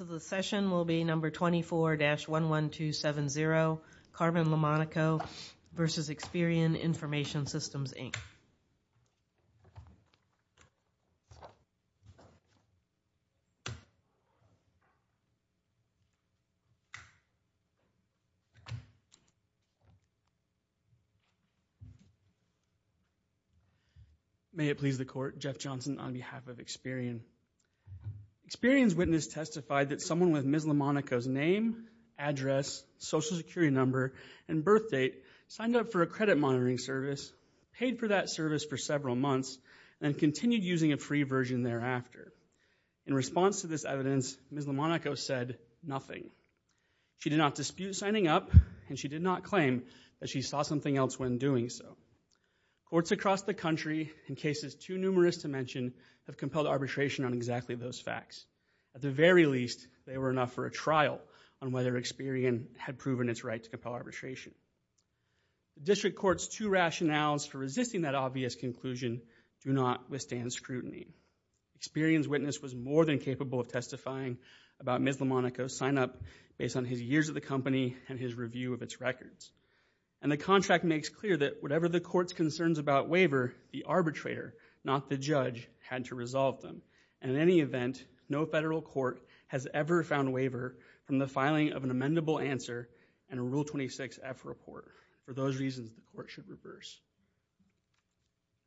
So the session will be number 24-11270, Carmen Lamonaco v. Experian Information Systems Inc. May it please the court, Jeff Johnson on behalf of Experian. Experian's witness testified that someone with Ms. Lamonaco's name, address, Social Security number, and birth date signed up for a credit monitoring service, paid for that service for several months, and continued using a free version thereafter. In response to this evidence, Ms. Lamonaco said nothing. She did not dispute signing up, and she did not claim that she saw something else when doing so. Courts across the country, in cases too numerous to mention, have compelled arbitration on exactly those facts. At the very least, they were enough for a trial on whether Experian had proven its right to compel arbitration. District Court's two rationales for resisting that obvious conclusion do not withstand scrutiny. Experian's witness was more than capable of testifying about Ms. Lamonaco's sign-up based on his years at the company and his review of its records. The contract makes clear that whatever the court's concerns about waiver, the arbitrator, not the judge, had to resolve them. In any event, no federal court has ever found waiver from the filing of an amendable answer and a Rule 26-F report. For those reasons, the court should reverse.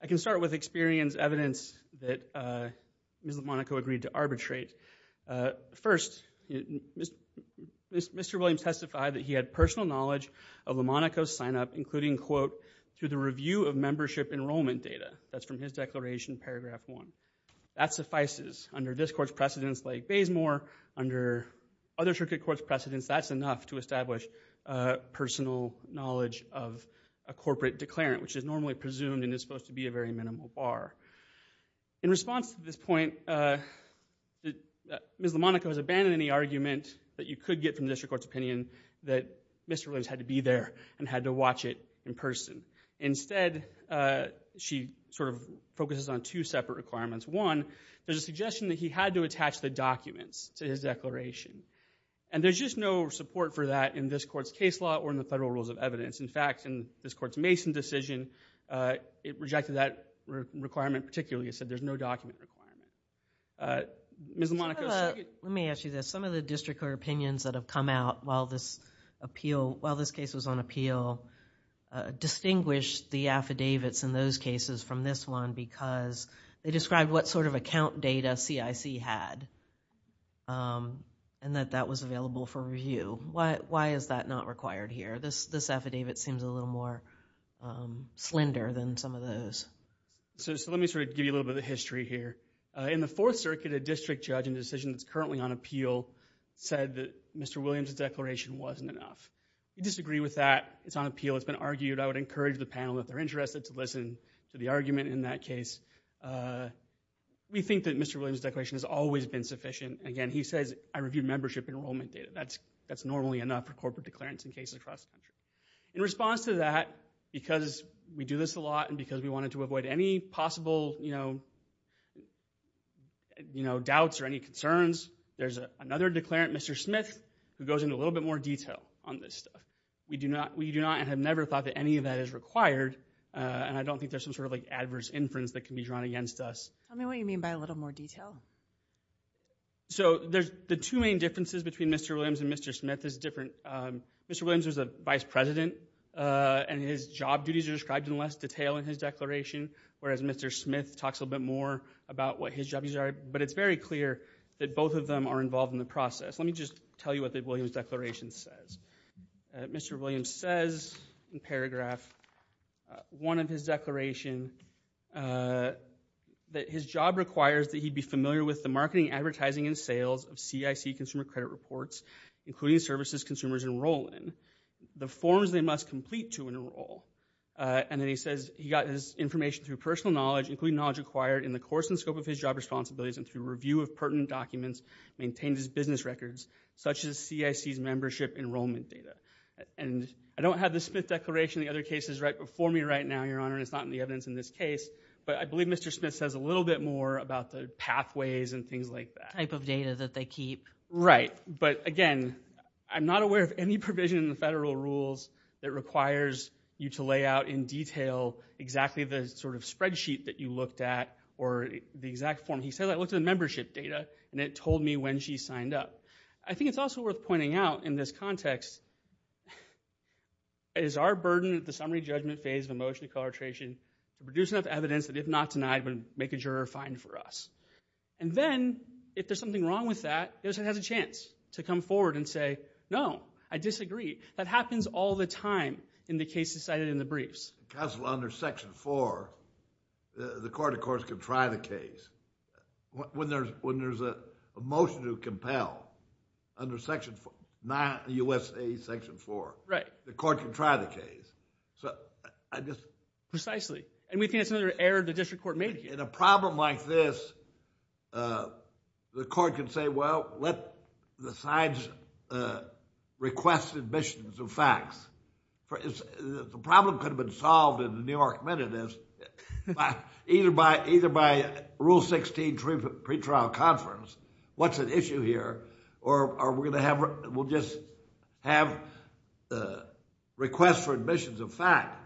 I can start with Experian's evidence that Ms. Lamonaco agreed to arbitrate. First, Mr. Williams testified that he had personal knowledge of Lamonaco's sign-up, including, quote, through the review of membership enrollment data. That's from his declaration, paragraph one. That suffices. Under this court's precedence, like Bazemore, under other circuit court's precedence, that's enough to establish personal knowledge of a corporate declarant, which is normally presumed and is supposed to be a very minimal bar. In response to this point, Ms. Lamonaco has abandoned any argument that you could get from the district court's opinion that Mr. Williams had to be there and had to watch it in person. Instead, she sort of focuses on two separate requirements. One, there's a suggestion that he had to attach the documents to his declaration. And there's just no support for that in this court's case law or in the federal rules of evidence. In fact, in this court's Mason decision, it rejected that requirement particularly. It said there's no document requirement. Ms. Lamonaco, so you could... Let me ask you this. Some of the district court opinions that have come out while this case was on appeal distinguished the affidavits in those cases from this one because they described what sort of account data CIC had and that that was available for review. Why is that not required here? This affidavit seems a little more slender than some of those. Let me sort of give you a little bit of the history here. In the Fourth Circuit, a district judge in the decision that's currently on appeal said that Mr. Williams' declaration wasn't enough. We disagree with that. It's on appeal. It's been argued. I would encourage the panel, if they're interested, to listen to the argument in that case. We think that Mr. Williams' declaration has always been sufficient. Again, he says, I reviewed membership enrollment data. That's normally enough for corporate declarants in cases across the country. In response to that, because we do this a lot and because we wanted to avoid any possible doubts or any concerns, there's another declarant, Mr. Smith, who goes into a little bit more detail on this stuff. We do not and have never thought that any of that is required. I don't think there's some sort of adverse inference that can be drawn against us. Tell me what you mean by a little more detail. There's the two main differences between Mr. Williams and Mr. Smith is different. Mr. Williams is a vice president and his job duties are described in less detail in his declaration, whereas Mr. Smith talks a little bit more about what his job duties are. It's very clear that both of them are involved in the process. Let me just tell you what the Williams' declaration says. Mr. Williams says in paragraph one of his declaration that his job requires that he be familiar with the marketing, advertising, and sales of CIC consumer credit reports, including services consumers enroll in, the forms they must complete to enroll. Then he says he got his information through personal knowledge, including knowledge acquired in the course and scope of his job responsibilities and through review of pertinent documents maintained as business records, such as CIC's membership enrollment data. I don't have the Smith declaration and the other cases right before me right now, Your Honor, and it's not in the evidence in this case, but I believe Mr. Smith says a little bit more about the pathways and things like that. The type of data that they keep. Right, but again, I'm not aware of any provision in the federal rules that requires you to lay out in detail exactly the sort of spreadsheet that you looked at or the exact form. He said, I looked at the membership data and it told me when she signed up. I think it's also worth pointing out in this context, it is our burden at the summary judgment phase of a motion to color attrition to produce enough evidence that if not denied would make a juror find for us. And then if there's something wrong with that, the other side has a chance to come forward and say, no, I disagree. That happens all the time in the cases cited in the briefs. Counsel, under section four, the court, of course, can try the case. When there's a motion to compel under section four, not USA section four, the court can try the case. Precisely, and we think that's another error the district court made here. In a problem like this, the court can say, well, let the sides request admissions of facts. The problem could have been solved in the New York minutes either by rule 16 pretrial conference, what's at issue here, or we'll just have requests for admissions of fact.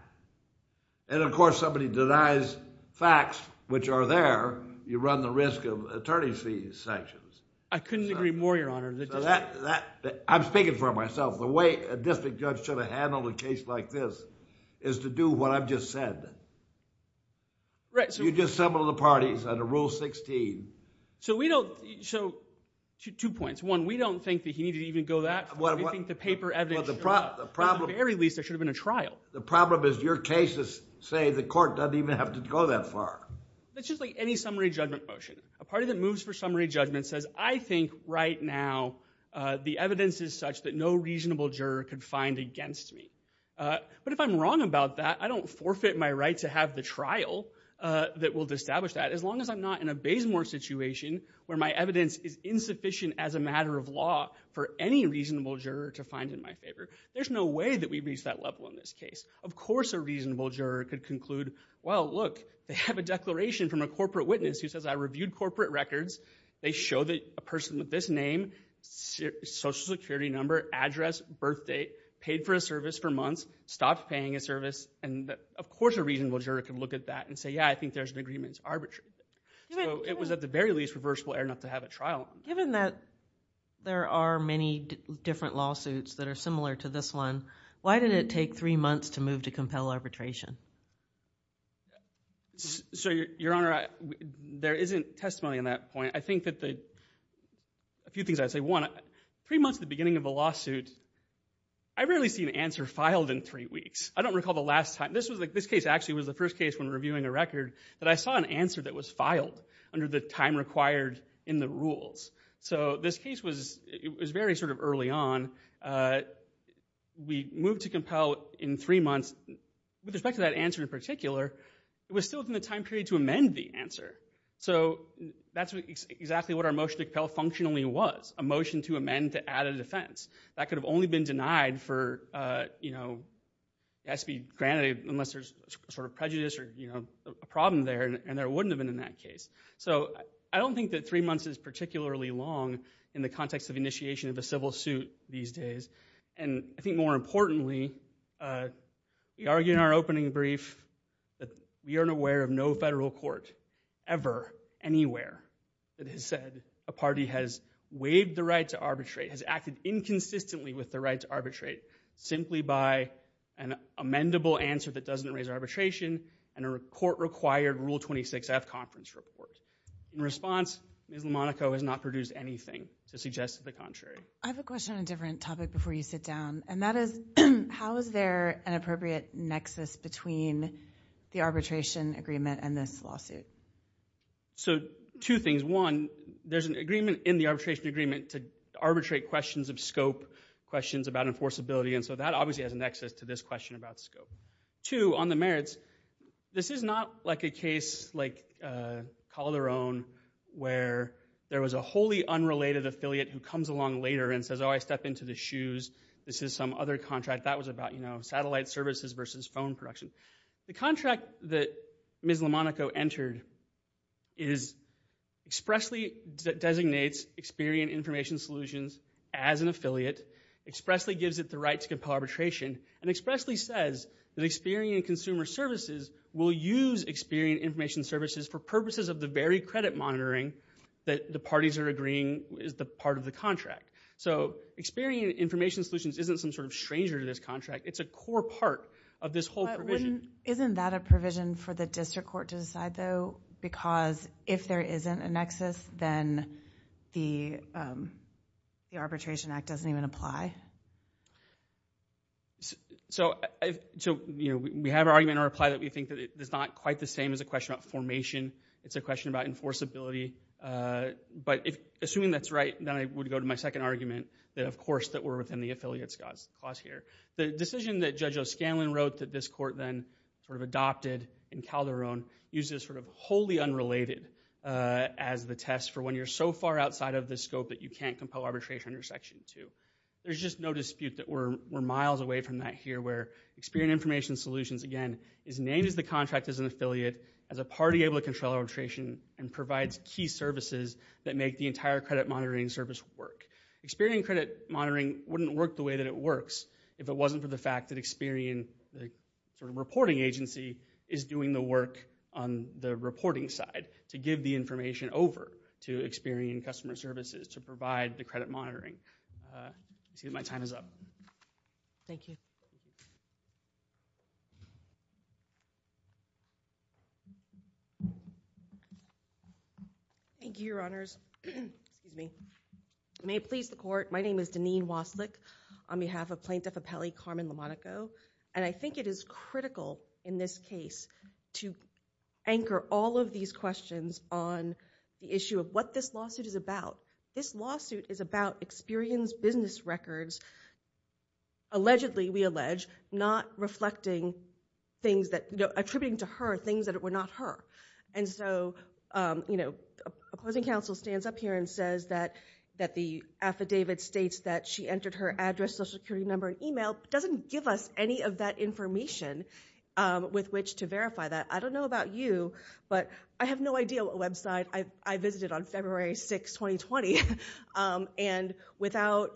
And, of course, somebody denies facts, which are there, you run the risk of attorney's fees sanctions. I couldn't agree more, Your Honor. I'm speaking for myself. The way a district judge should have handled a case like this is to do what I've just said. Right. You just assembled the parties under rule 16. So we don't... Two points. One, we don't think that he needed to even go that far. We think the paper evidence... Well, the problem... At the very least, there should have been a trial. The problem is your cases say the court doesn't even have to go that far. It's just like any summary judgment motion. A party that moves for summary judgment says, I think right now the evidence is such that no reasonable juror could find against me. But if I'm wrong about that, I don't forfeit my right to have the trial that will establish that as long as I'm not in a basemore situation where my evidence is insufficient as a matter of law for any reasonable juror to find in my favor. There's no way that we've reached that level in this case. Of course a reasonable juror could conclude, well, look, they have a declaration from a corporate witness who says I reviewed corporate records. They show that a person with this name, Social Security number, address, birth date, paid for a service for months, stopped paying a service, and of course a reasonable juror could look at that and say, yeah, I think there's an agreement. It's arbitrary. So it was at the very least reversible enough to have a trial. Given that there are many different lawsuits that are similar to this one, why did it take three months to move to compel arbitration? So, Your Honor, there isn't testimony on that point. I think that the few things I'd say, one, three months at the beginning of a lawsuit, I rarely see an answer filed in three weeks. I don't recall the last time. This was like, this case actually was the first case when reviewing a record that I So this case was very sort of early on. We moved to compel in three months. With respect to that answer in particular, it was still within the time period to amend the answer. So that's exactly what our motion to compel functionally was, a motion to amend to add a defense. That could have only been denied for, you know, it has to be granted unless there's sort of prejudice or a problem there, and there wouldn't have been in that case. So I don't think that three months is particularly long in the context of initiation of a civil suit these days, and I think more importantly, we argue in our opening brief that we aren't aware of no federal court ever, anywhere, that has said a party has waived the right to arbitrate, has acted inconsistently with the right to arbitrate, simply by an amendable answer that doesn't raise arbitration, and a court-required Rule 26-F conference report. In response, Ms. Lamonaco has not produced anything to suggest the contrary. I have a question on a different topic before you sit down, and that is, how is there an appropriate nexus between the arbitration agreement and this lawsuit? So two things, one, there's an agreement in the arbitration agreement to arbitrate questions of scope, questions about enforceability, and so that obviously has a nexus to this question about scope. Two, on the merits, this is not like a case like Calderon, where there was a wholly unrelated affiliate who comes along later and says, oh, I stepped into the shoes, this is some other contract, that was about satellite services versus phone production. The contract that Ms. Lamonaco entered expressly designates Experian Information Solutions as an affiliate, expressly gives it the right to compel arbitration, and expressly says that Experian Consumer Services will use Experian Information Services for purposes of the very credit monitoring that the parties are agreeing is the part of the contract. So Experian Information Solutions isn't some sort of stranger to this contract, it's a core part of this whole provision. Isn't that a provision for the district court to decide, though, because if there isn't a nexus, then the Arbitration Act doesn't even apply? So we have an argument in our reply that we think that it's not quite the same as a question about formation, it's a question about enforceability, but assuming that's right, then I would go to my second argument, that of course, that we're within the affiliates clause here. The decision that Judge O'Scanlan wrote that this court then sort of adopted in Calderon uses sort of wholly unrelated as the test for when you're so far outside of the scope that you can't compel arbitration under Section 2. There's just no dispute that we're miles away from that here, where Experian Information Solutions, again, is named as the contract as an affiliate, as a party able to control arbitration, and provides key services that make the entire credit monitoring service work. Experian credit monitoring wouldn't work the way that it works if it wasn't for the fact that Experian, the reporting agency, is doing the work on the reporting side, to give the information over to Experian Customer Services to provide the credit monitoring. I see that my time is up. Thank you. Thank you, Your Honors. May it please the Court, my name is Deneen Waslik on behalf of Plaintiff Appellee Carmen Lamonaco, and I think it is critical in this case to anchor all of these questions on the issue of what this lawsuit is about. This lawsuit is about Experian's business records, allegedly, we allege, not reflecting things that, attributing to her things that were not her. And so, you know, opposing counsel stands up here and says that the affidavit states that she entered her address, social security number, and email, but doesn't give us any of that information with which to verify that. I don't know about you, but I have no idea what website I visited on February 6, 2020, and without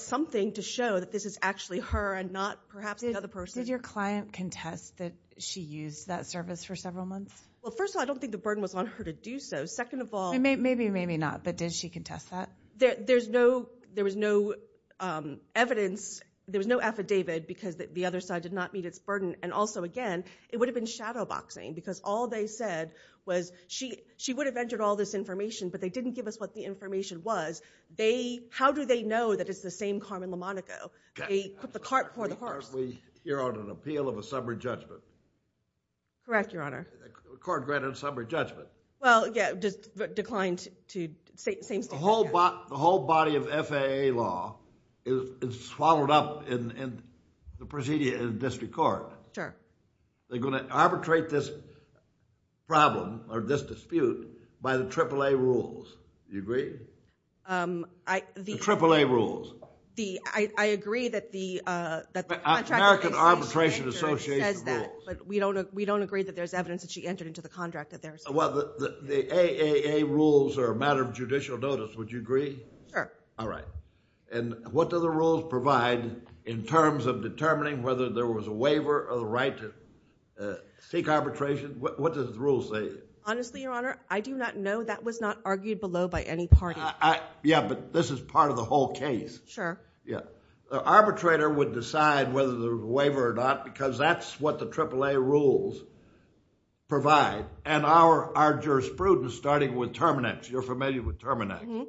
something to show that this is actually her and not perhaps the other person. Did your client contest that she used that service for several months? Well, first of all, I don't think the burden was on her to do so. Second of all... Maybe, maybe not, but did she contest that? There was no evidence, there was no affidavit, because the other side did not meet its burden. And also, again, it would have been shadowboxing, because all they said was she would have entered all this information, but they didn't give us what the information was. How do they know that it's the same Carmen Lamonaco, the cart before the horse? You're on an appeal of a sober judgment. Correct, Your Honor. Court granted a sober judgment. Well, yeah, declined to say the same statement. The whole body of FAA law is swallowed up in the procedure in the district court. Sure. They're going to arbitrate this problem, or this dispute, by the AAA rules, do you agree? The AAA rules. I agree that the contract... American Arbitration Association rules. But we don't agree that there's evidence that she entered into the contract that there's... Well, the AAA rules are a matter of judicial notice, would you agree? Sure. All right. And what do the rules provide in terms of determining whether there was a waiver or the right to seek arbitration? What do the rules say? Honestly, Your Honor, I do not know. That was not argued below by any party. Yeah, but this is part of the whole case. Sure. Yeah. The arbitrator would decide whether there was a waiver or not, because that's what the our jurisprudence, starting with Terminix. You're familiar with Terminix.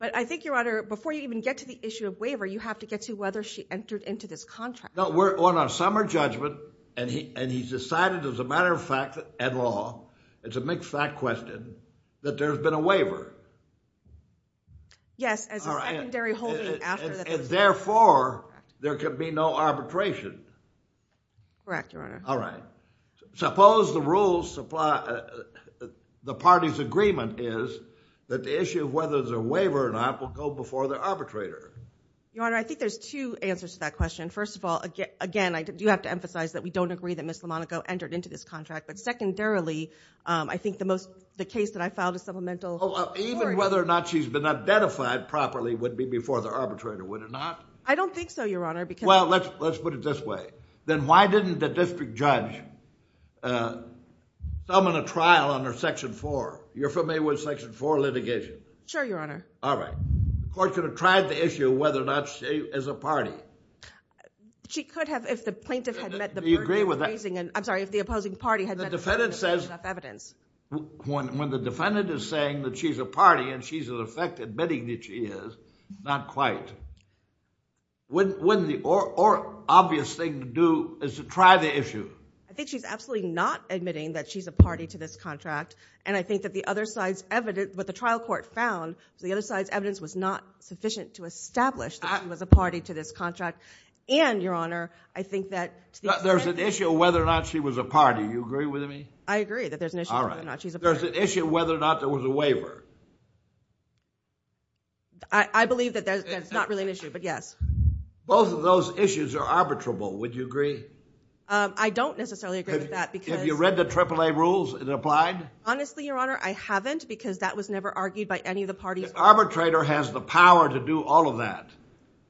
But I think, Your Honor, before you even get to the issue of waiver, you have to get to whether she entered into this contract. No, we're on our summer judgment, and he's decided, as a matter of fact, at law, it's a mixed fact question, that there's been a waiver. Yes, as a secondary holding after the... And therefore, there could be no arbitration. Correct, Your Honor. All right. Suppose the party's agreement is that the issue of whether there's a waiver or not will go before the arbitrator. Your Honor, I think there's two answers to that question. First of all, again, I do have to emphasize that we don't agree that Ms. Lamonaco entered into this contract. But secondarily, I think the case that I filed as supplemental... Even whether or not she's been identified properly would be before the arbitrator, would it not? I don't think so, Your Honor, because... Well, let's put it this way. Then why didn't the district judge summon a trial under Section 4? You're familiar with Section 4 litigation? Sure, Your Honor. All right. The court could have tried the issue of whether or not she is a party. She could have if the plaintiff had met the burden of raising... Do you agree with that? I'm sorry, if the opposing party had met the burden of evidence. When the defendant is saying that she's a party and she's, in effect, admitting that she is, not quite, wouldn't the obvious thing to do is to try the issue? I think she's absolutely not admitting that she's a party to this contract. And I think that the other side's evidence, what the trial court found, the other side's evidence was not sufficient to establish that she was a party to this contract. And, Your Honor, I think that... There's an issue of whether or not she was a party. Do you agree with me? I agree that there's an issue of whether or not she's a party. There's an issue of whether or not there was a waiver. I believe that that's not really an issue, but yes. Both of those issues are arbitrable. Would you agree? I don't necessarily agree with that because... Have you read the AAA rules and applied? Honestly, Your Honor, I haven't because that was never argued by any of the parties. The arbitrator has the power to do all of that.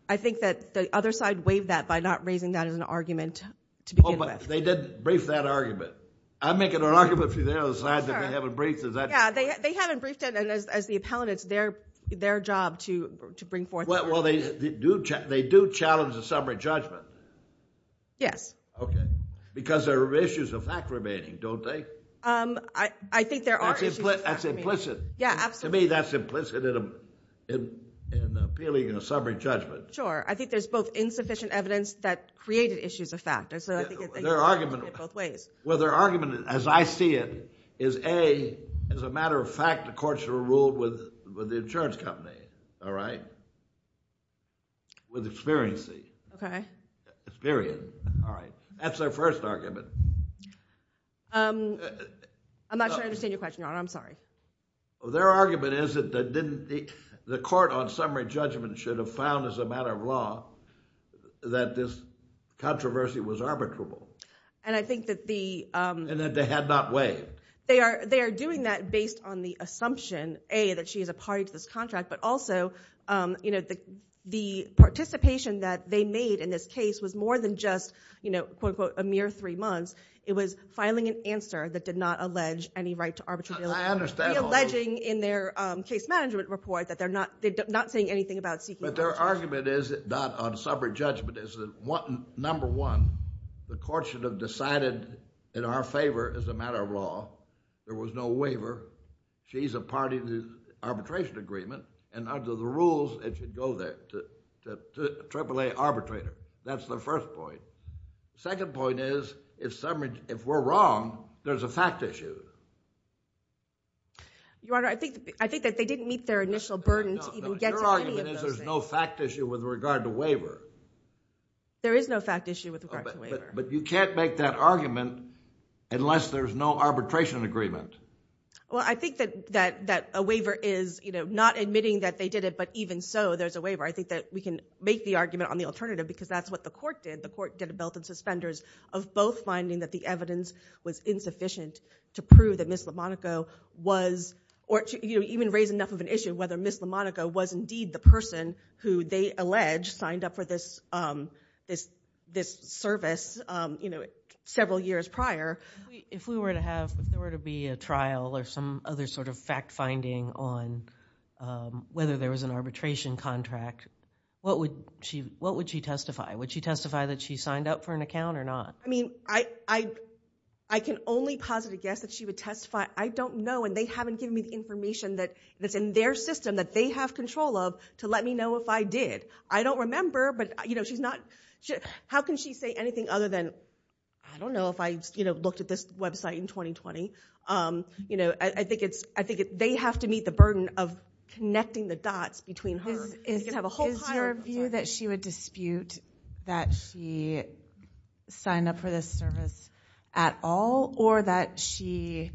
I think that the other side waived that by not raising that as an argument to begin with. Oh, but they did brief that argument. I'm making an argument for the other side that they haven't briefed. Yeah, they haven't briefed it, and as the appellant, it's their job to bring forth... Well, they do challenge a summary judgment. Yes. Okay. Because there are issues of fact remaining, don't they? I think there are issues of fact remaining. That's implicit. Yeah, absolutely. To me, that's implicit in appealing a summary judgment. Sure. I think there's both insufficient evidence that created issues of fact. Their argument... Both ways. Well, their argument, as I see it, is A, as a matter of fact, the court should have ruled with the insurance company. All right? With experience. Okay. Experience. All right. That's their first argument. I'm not sure I understand your question, Your Honor. I'm sorry. Their argument is that the court on summary judgment should have found as a matter of law that this controversy was arbitrable. And I think that the... And that they had not waived. They are doing that based on the assumption, A, that she is a party to this contract, but also, you know, the participation that they made in this case was more than just, you know, quote, unquote, a mere three months. It was filing an answer that did not allege any right to arbitrability. I understand. The alleging in their case management report that they're not saying anything about seeking... But their argument is not on summary judgment. It's that, number one, the court should have decided in our favor as a matter of law. There was no waiver. She's a party to the arbitration agreement. And under the rules, it should go there, to AAA arbitrator. That's their first point. Second point is, if we're wrong, there's a fact issue. Your Honor, I think that they didn't meet their initial burden to even get to any of those things. The question is, there's no fact issue with regard to waiver. There is no fact issue with regard to waiver. But you can't make that argument unless there's no arbitration agreement. Well, I think that a waiver is, you know, not admitting that they did it, but even so, there's a waiver. I think that we can make the argument on the alternative because that's what the court did. The court did a belt and suspenders of both finding that the evidence was insufficient to prove that Ms. Lamonaco was... You know, even raise enough of an issue whether Ms. Lamonaco was indeed the person who they allege signed up for this service, you know, several years prior. If we were to have, if there were to be a trial or some other sort of fact finding on whether there was an arbitration contract, what would she testify? Would she testify that she signed up for an account or not? I mean, I can only posit a guess that she would testify. I don't know, and they haven't given me the information that's in their system that they have control of to let me know if I did. I don't remember, but, you know, she's not... How can she say anything other than, I don't know if I, you know, looked at this website in 2020. You know, I think they have to meet the burden of connecting the dots between her. Is your view that she would dispute that she signed up for this service at all or that she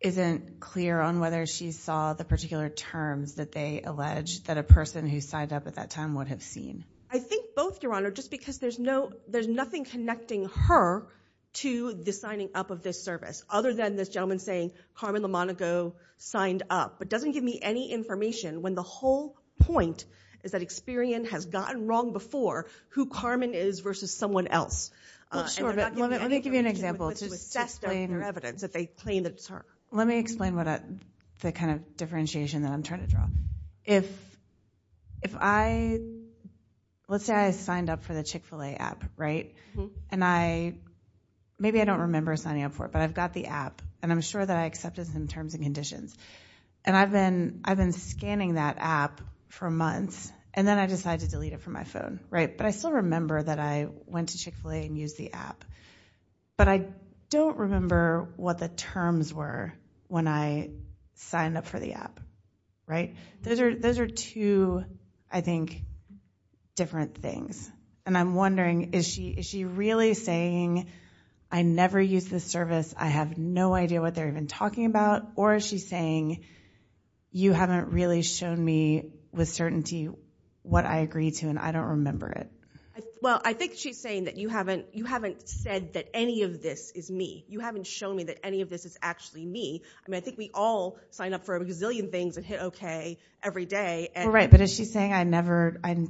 isn't clear on whether she saw the particular terms that they allege that a person who signed up at that time would have seen? I think both, Your Honor, just because there's no, there's nothing connecting her to the signing up of this service other than this gentleman saying Carmen Lamonaco signed up. It doesn't give me any information when the whole point is that Experian has gotten wrong before who Carmen is versus someone else. Well, sure, but let me give you an example. To assess their evidence, if they claim that it's her. Let me explain the kind of differentiation that I'm trying to draw. If I, let's say I signed up for the Chick-fil-A app, right? And I, maybe I don't remember signing up for it, but I've got the app and I'm sure that I accepted some terms and conditions. And I've been scanning that app for months and then I decided to delete it from my phone, right? But I still remember that I went to Chick-fil-A and used the app. But I don't remember what the terms were when I signed up for the app, right? Those are two, I think, different things. And I'm wondering, is she really saying, I never used this service, I have no idea what they're even talking about? Or is she saying, you haven't really shown me with certainty what I agree to and I don't remember it? Well, I think she's saying that you haven't said that any of this is me. You haven't shown me that any of this is actually me. I mean, I think we all sign up for a gazillion things and hit OK every day. Right, but is she saying, I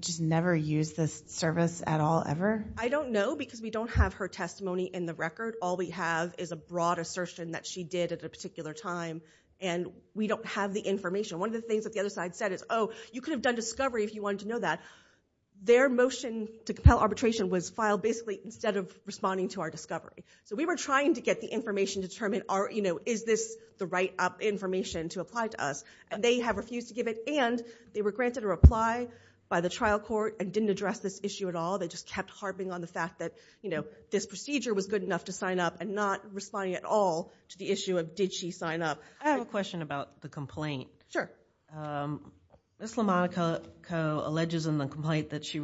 just never used this service at all, ever? I don't know, because we don't have her testimony in the record. All we have is a broad assertion that she did at a particular time. And we don't have the information. One of the things that the other side said is, oh, you could have done discovery if you wanted to know that. Their motion to compel arbitration was filed basically instead of responding to our discovery. So we were trying to get the information to determine, is this the right information to apply to us? And they have refused to give it. And they were granted a reply by the trial court and didn't address this issue at all. They just kept harping on the fact that this procedure was good enough to sign up and not responding at all to the issue of did she sign up. I have a question about the complaint. Ms. Lamonaco alleges in the complaint that she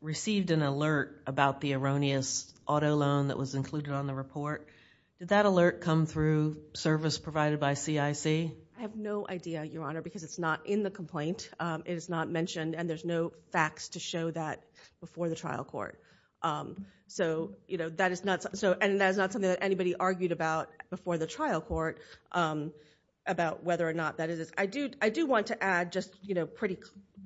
received an alert about the erroneous auto loan that was included on the report. Did that alert come through service provided by CIC? I have no idea, Your Honor, because it's not in the complaint. It is not mentioned. And there's no facts to show that before the trial court. So, you know, that is not something that anybody argued about before the trial court about whether or not that is. I do want to add just, you know, pretty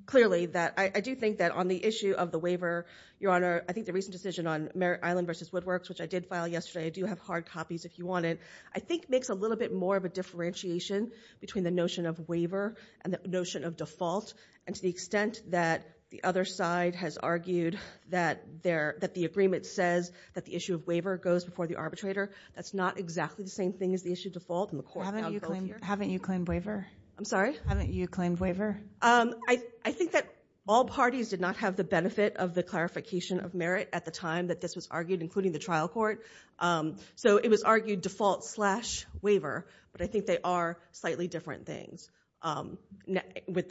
clearly that I do think that on the issue of the waiver, Your Honor, I think the recent decision on Merritt Island versus Woodworks, which I did file yesterday, I do have hard copies if you want it, I think makes a little bit more of a differentiation between the notion of waiver and the notion of default and to the extent that the other side has argued that the agreement says that the issue of waiver goes before the arbitrator, that's not exactly the same thing as the issue of default and the court found both here. Haven't you claimed waiver? I'm sorry? Haven't you claimed waiver? I think that all parties did not have the benefit of the clarification of Merritt at the time that this was argued, including the trial court. So it was argued default slash waiver, but I think they are slightly different things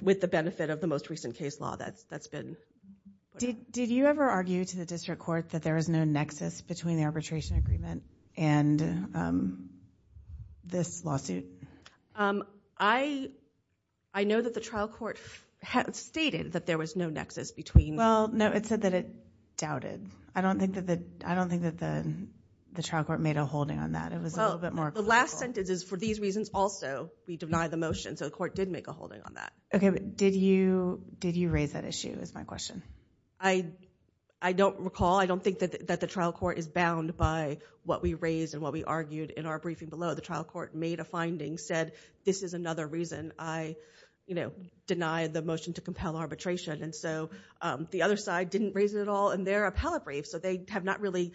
with the benefit of the most recent case law that's been... Did you ever argue to the district court that there was no nexus between the arbitration agreement and this lawsuit? I know that the trial court stated that there was no nexus between... Well, no, it said that it doubted. I don't think that the trial court made a holding on that. It was a little bit more... The last sentence is, for these reasons also, we deny the motion, so the court did make a holding on that. OK, but did you raise that issue, is my question. I don't recall. I don't think that the trial court is bound by what we raised and what we argued in our briefing below. The trial court made a finding, said, this is another reason I, you know, deny the motion to compel arbitration. And so the other side didn't raise it at all in their appellate brief. So they have not really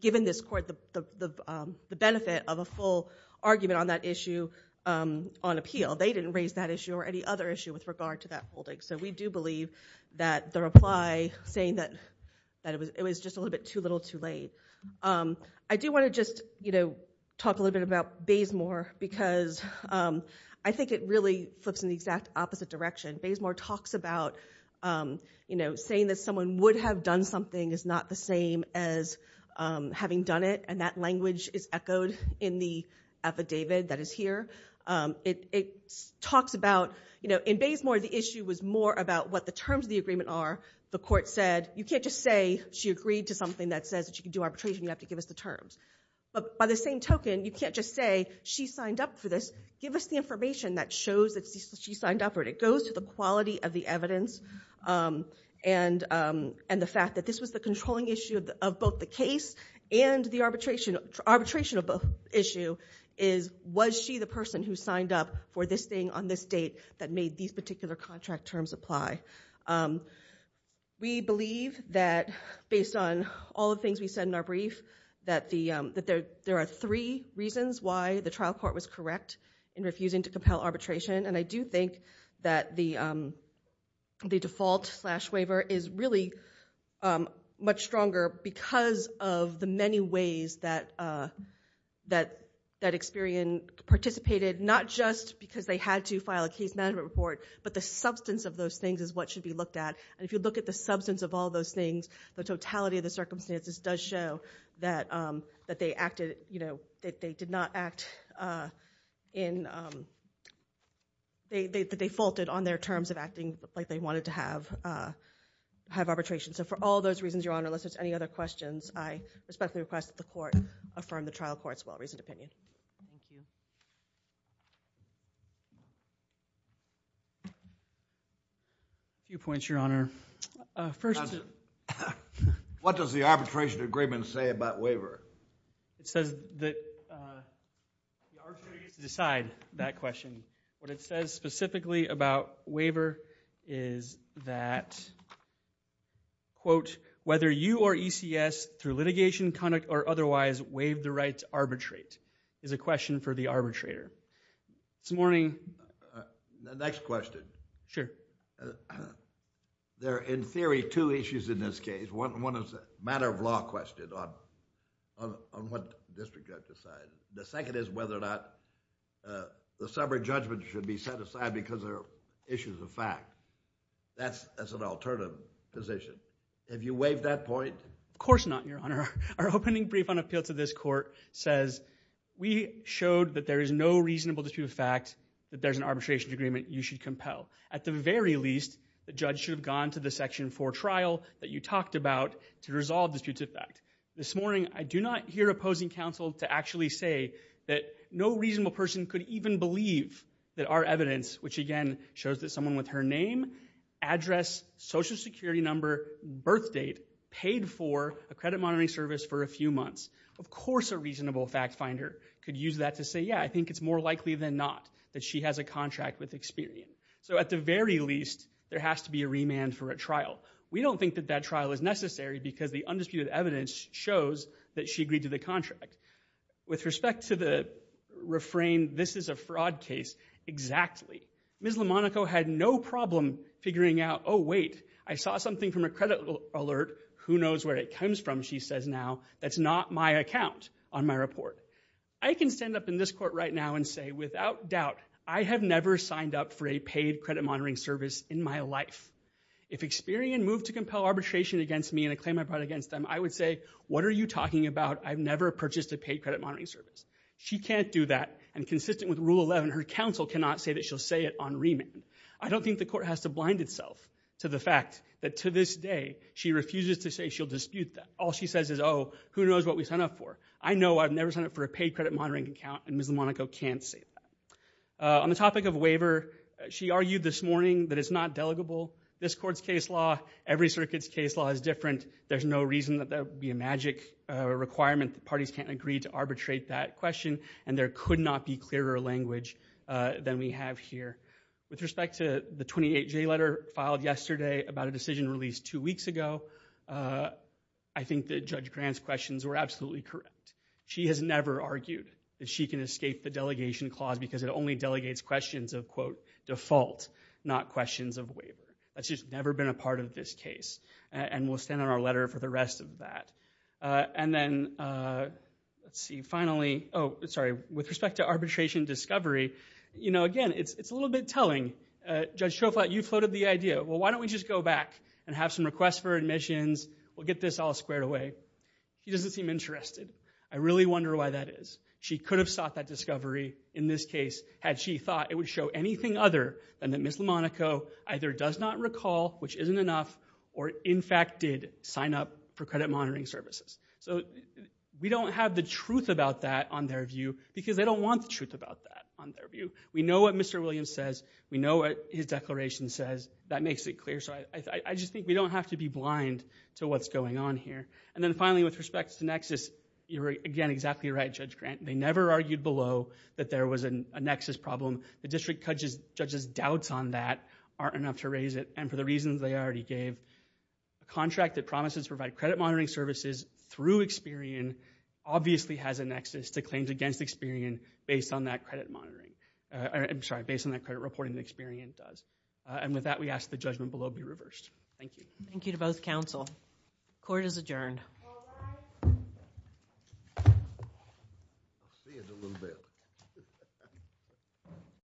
given this court the benefit of a full argument on that issue on appeal. They didn't raise that issue or any other issue with regard to that holding. So we do believe that the reply saying that it was just a little bit too little, too late. I do want to just, you know, talk a little bit about Bazemore because I think it really flips in the exact opposite direction. Bazemore talks about, you know, saying that someone would have done something is not the same as having done it, and that language is echoed in the affidavit that is here. It talks about, you know, in Bazemore, the issue was more about what the terms of the agreement are. The court said, you can't just say, she agreed to something that says she can do arbitration, you have to give us the terms. But by the same token, you can't just say, she signed up for this, give us the information that shows that she signed up for it. It goes to the quality of the evidence and the fact that this was the controlling issue of both the case and the arbitration of the issue is, was she the person who signed up for this thing on this date that made these particular contract terms apply? We believe that, based on all the things we said in our brief, that there are three reasons why the trial court was correct in refusing to compel arbitration, and I do think that the default slash waiver is really much stronger because of the many ways that Experian participated, not just because they had to file a case management report, but the substance of those things is what should be looked at. And if you look at the substance of all those things, the totality of the circumstances does show that they acted, you know, that they did not act in, they faulted on their terms of acting like they wanted to have arbitration. So for all those reasons, Your Honor, unless there's any other questions, I respectfully request that the court affirm the trial court's well-reasoned opinion. Thank you. A few points, Your Honor. First... What does the arbitration agreement say about waiver? It says that... The arbitrator gets to decide that question. What it says specifically about waiver is that, quote, whether you or ECS, through litigation, conduct, or otherwise, waive the right to arbitrate, is a question for the arbitrator. This morning... The next question. There are, in theory, two issues in this case. One is a matter-of-law question on what district gets to decide. The second is whether or not the subject judgment should be set aside because there are issues of fact. That's an alternative position. Have you waived that point? Of course not, Your Honor. Our opening brief on appeal to this court says, we showed that there is no reasonable dispute of fact that there's an arbitration agreement you should compel. At the very least, the judge should have gone to the Section 4 trial that you talked about to resolve disputes of fact. This morning, I do not hear opposing counsel to actually say that no reasonable person could even believe that our evidence, which again shows that someone with her name, address, social security number, birth date, paid for a credit monitoring service for a few months. Of course a reasonable fact-finder could use that to say, yeah, I think it's more likely than not that she has a contract with Experian. So at the very least, there has to be a remand for a trial. We don't think that that trial is necessary because the undisputed evidence shows that she agreed to the contract. With respect to the refrain, this is a fraud case, exactly. Ms. Lamonaco had no problem figuring out, oh wait, I saw something from a credit alert. Who knows where it comes from, she says now. That's not my account on my report. I can stand up in this court right now and say, without doubt, I have never signed up for a paid credit monitoring service in my life. If Experian moved to compel arbitration against me and a claim I brought against them, I would say, what are you talking about? I've never purchased a paid credit monitoring service. She can't do that, and consistent with Rule 11, her counsel cannot say that she'll say it on remand. I don't think the court has to blind itself to the fact that to this day, she refuses to say she'll dispute that. All she says is, oh, who knows what we signed up for. I know I've never signed up for a paid credit monitoring account, and Ms. Lamonaco can't say that. On the topic of waiver, she argued this morning that it's not delegable. This court's case law, every circuit's case law is different. There's no reason that there would be a magic requirement that parties can't agree to arbitrate that question, and there could not be clearer language than we have here. With respect to the 28J letter filed yesterday about a decision released two weeks ago, I think that Judge Grant's questions were absolutely correct. She has never argued that she can escape the delegation clause because it only delegates questions of, quote, default, not questions of waiver. That's just never been a part of this case, and we'll stand on our letter for the rest of that. And then, let's see, finally, oh, sorry. With respect to arbitration discovery, you know, again, it's a little bit telling. Judge Schoflat, you floated the idea. Well, why don't we just go back and have some requests for admissions? We'll get this all squared away. He doesn't seem interested. I really wonder why that is. She could have sought that discovery in this case had she thought it would show anything other than that Ms. Lamonaco either does not recall, which isn't enough, or, in fact, did sign up for credit monitoring services. So we don't have the truth about that on their view because they don't want the truth about that on their view. We know what Mr. Williams says. We know what his declaration says. That makes it clear. So I just think we don't have to be blind to what's going on here. And then, finally, with respect to nexus, you're, again, exactly right, Judge Grant. They never argued below that there was a nexus problem. The district judge's doubts on that aren't enough to raise it, and for the reasons they already gave, the contract that promises to provide credit monitoring services through Experian obviously has a nexus to claims against Experian based on that credit monitoring. I'm sorry, based on that credit reporting that Experian does. And with that, we ask the judgment below be reversed. Thank you. Thank you to both counsel. Court is adjourned.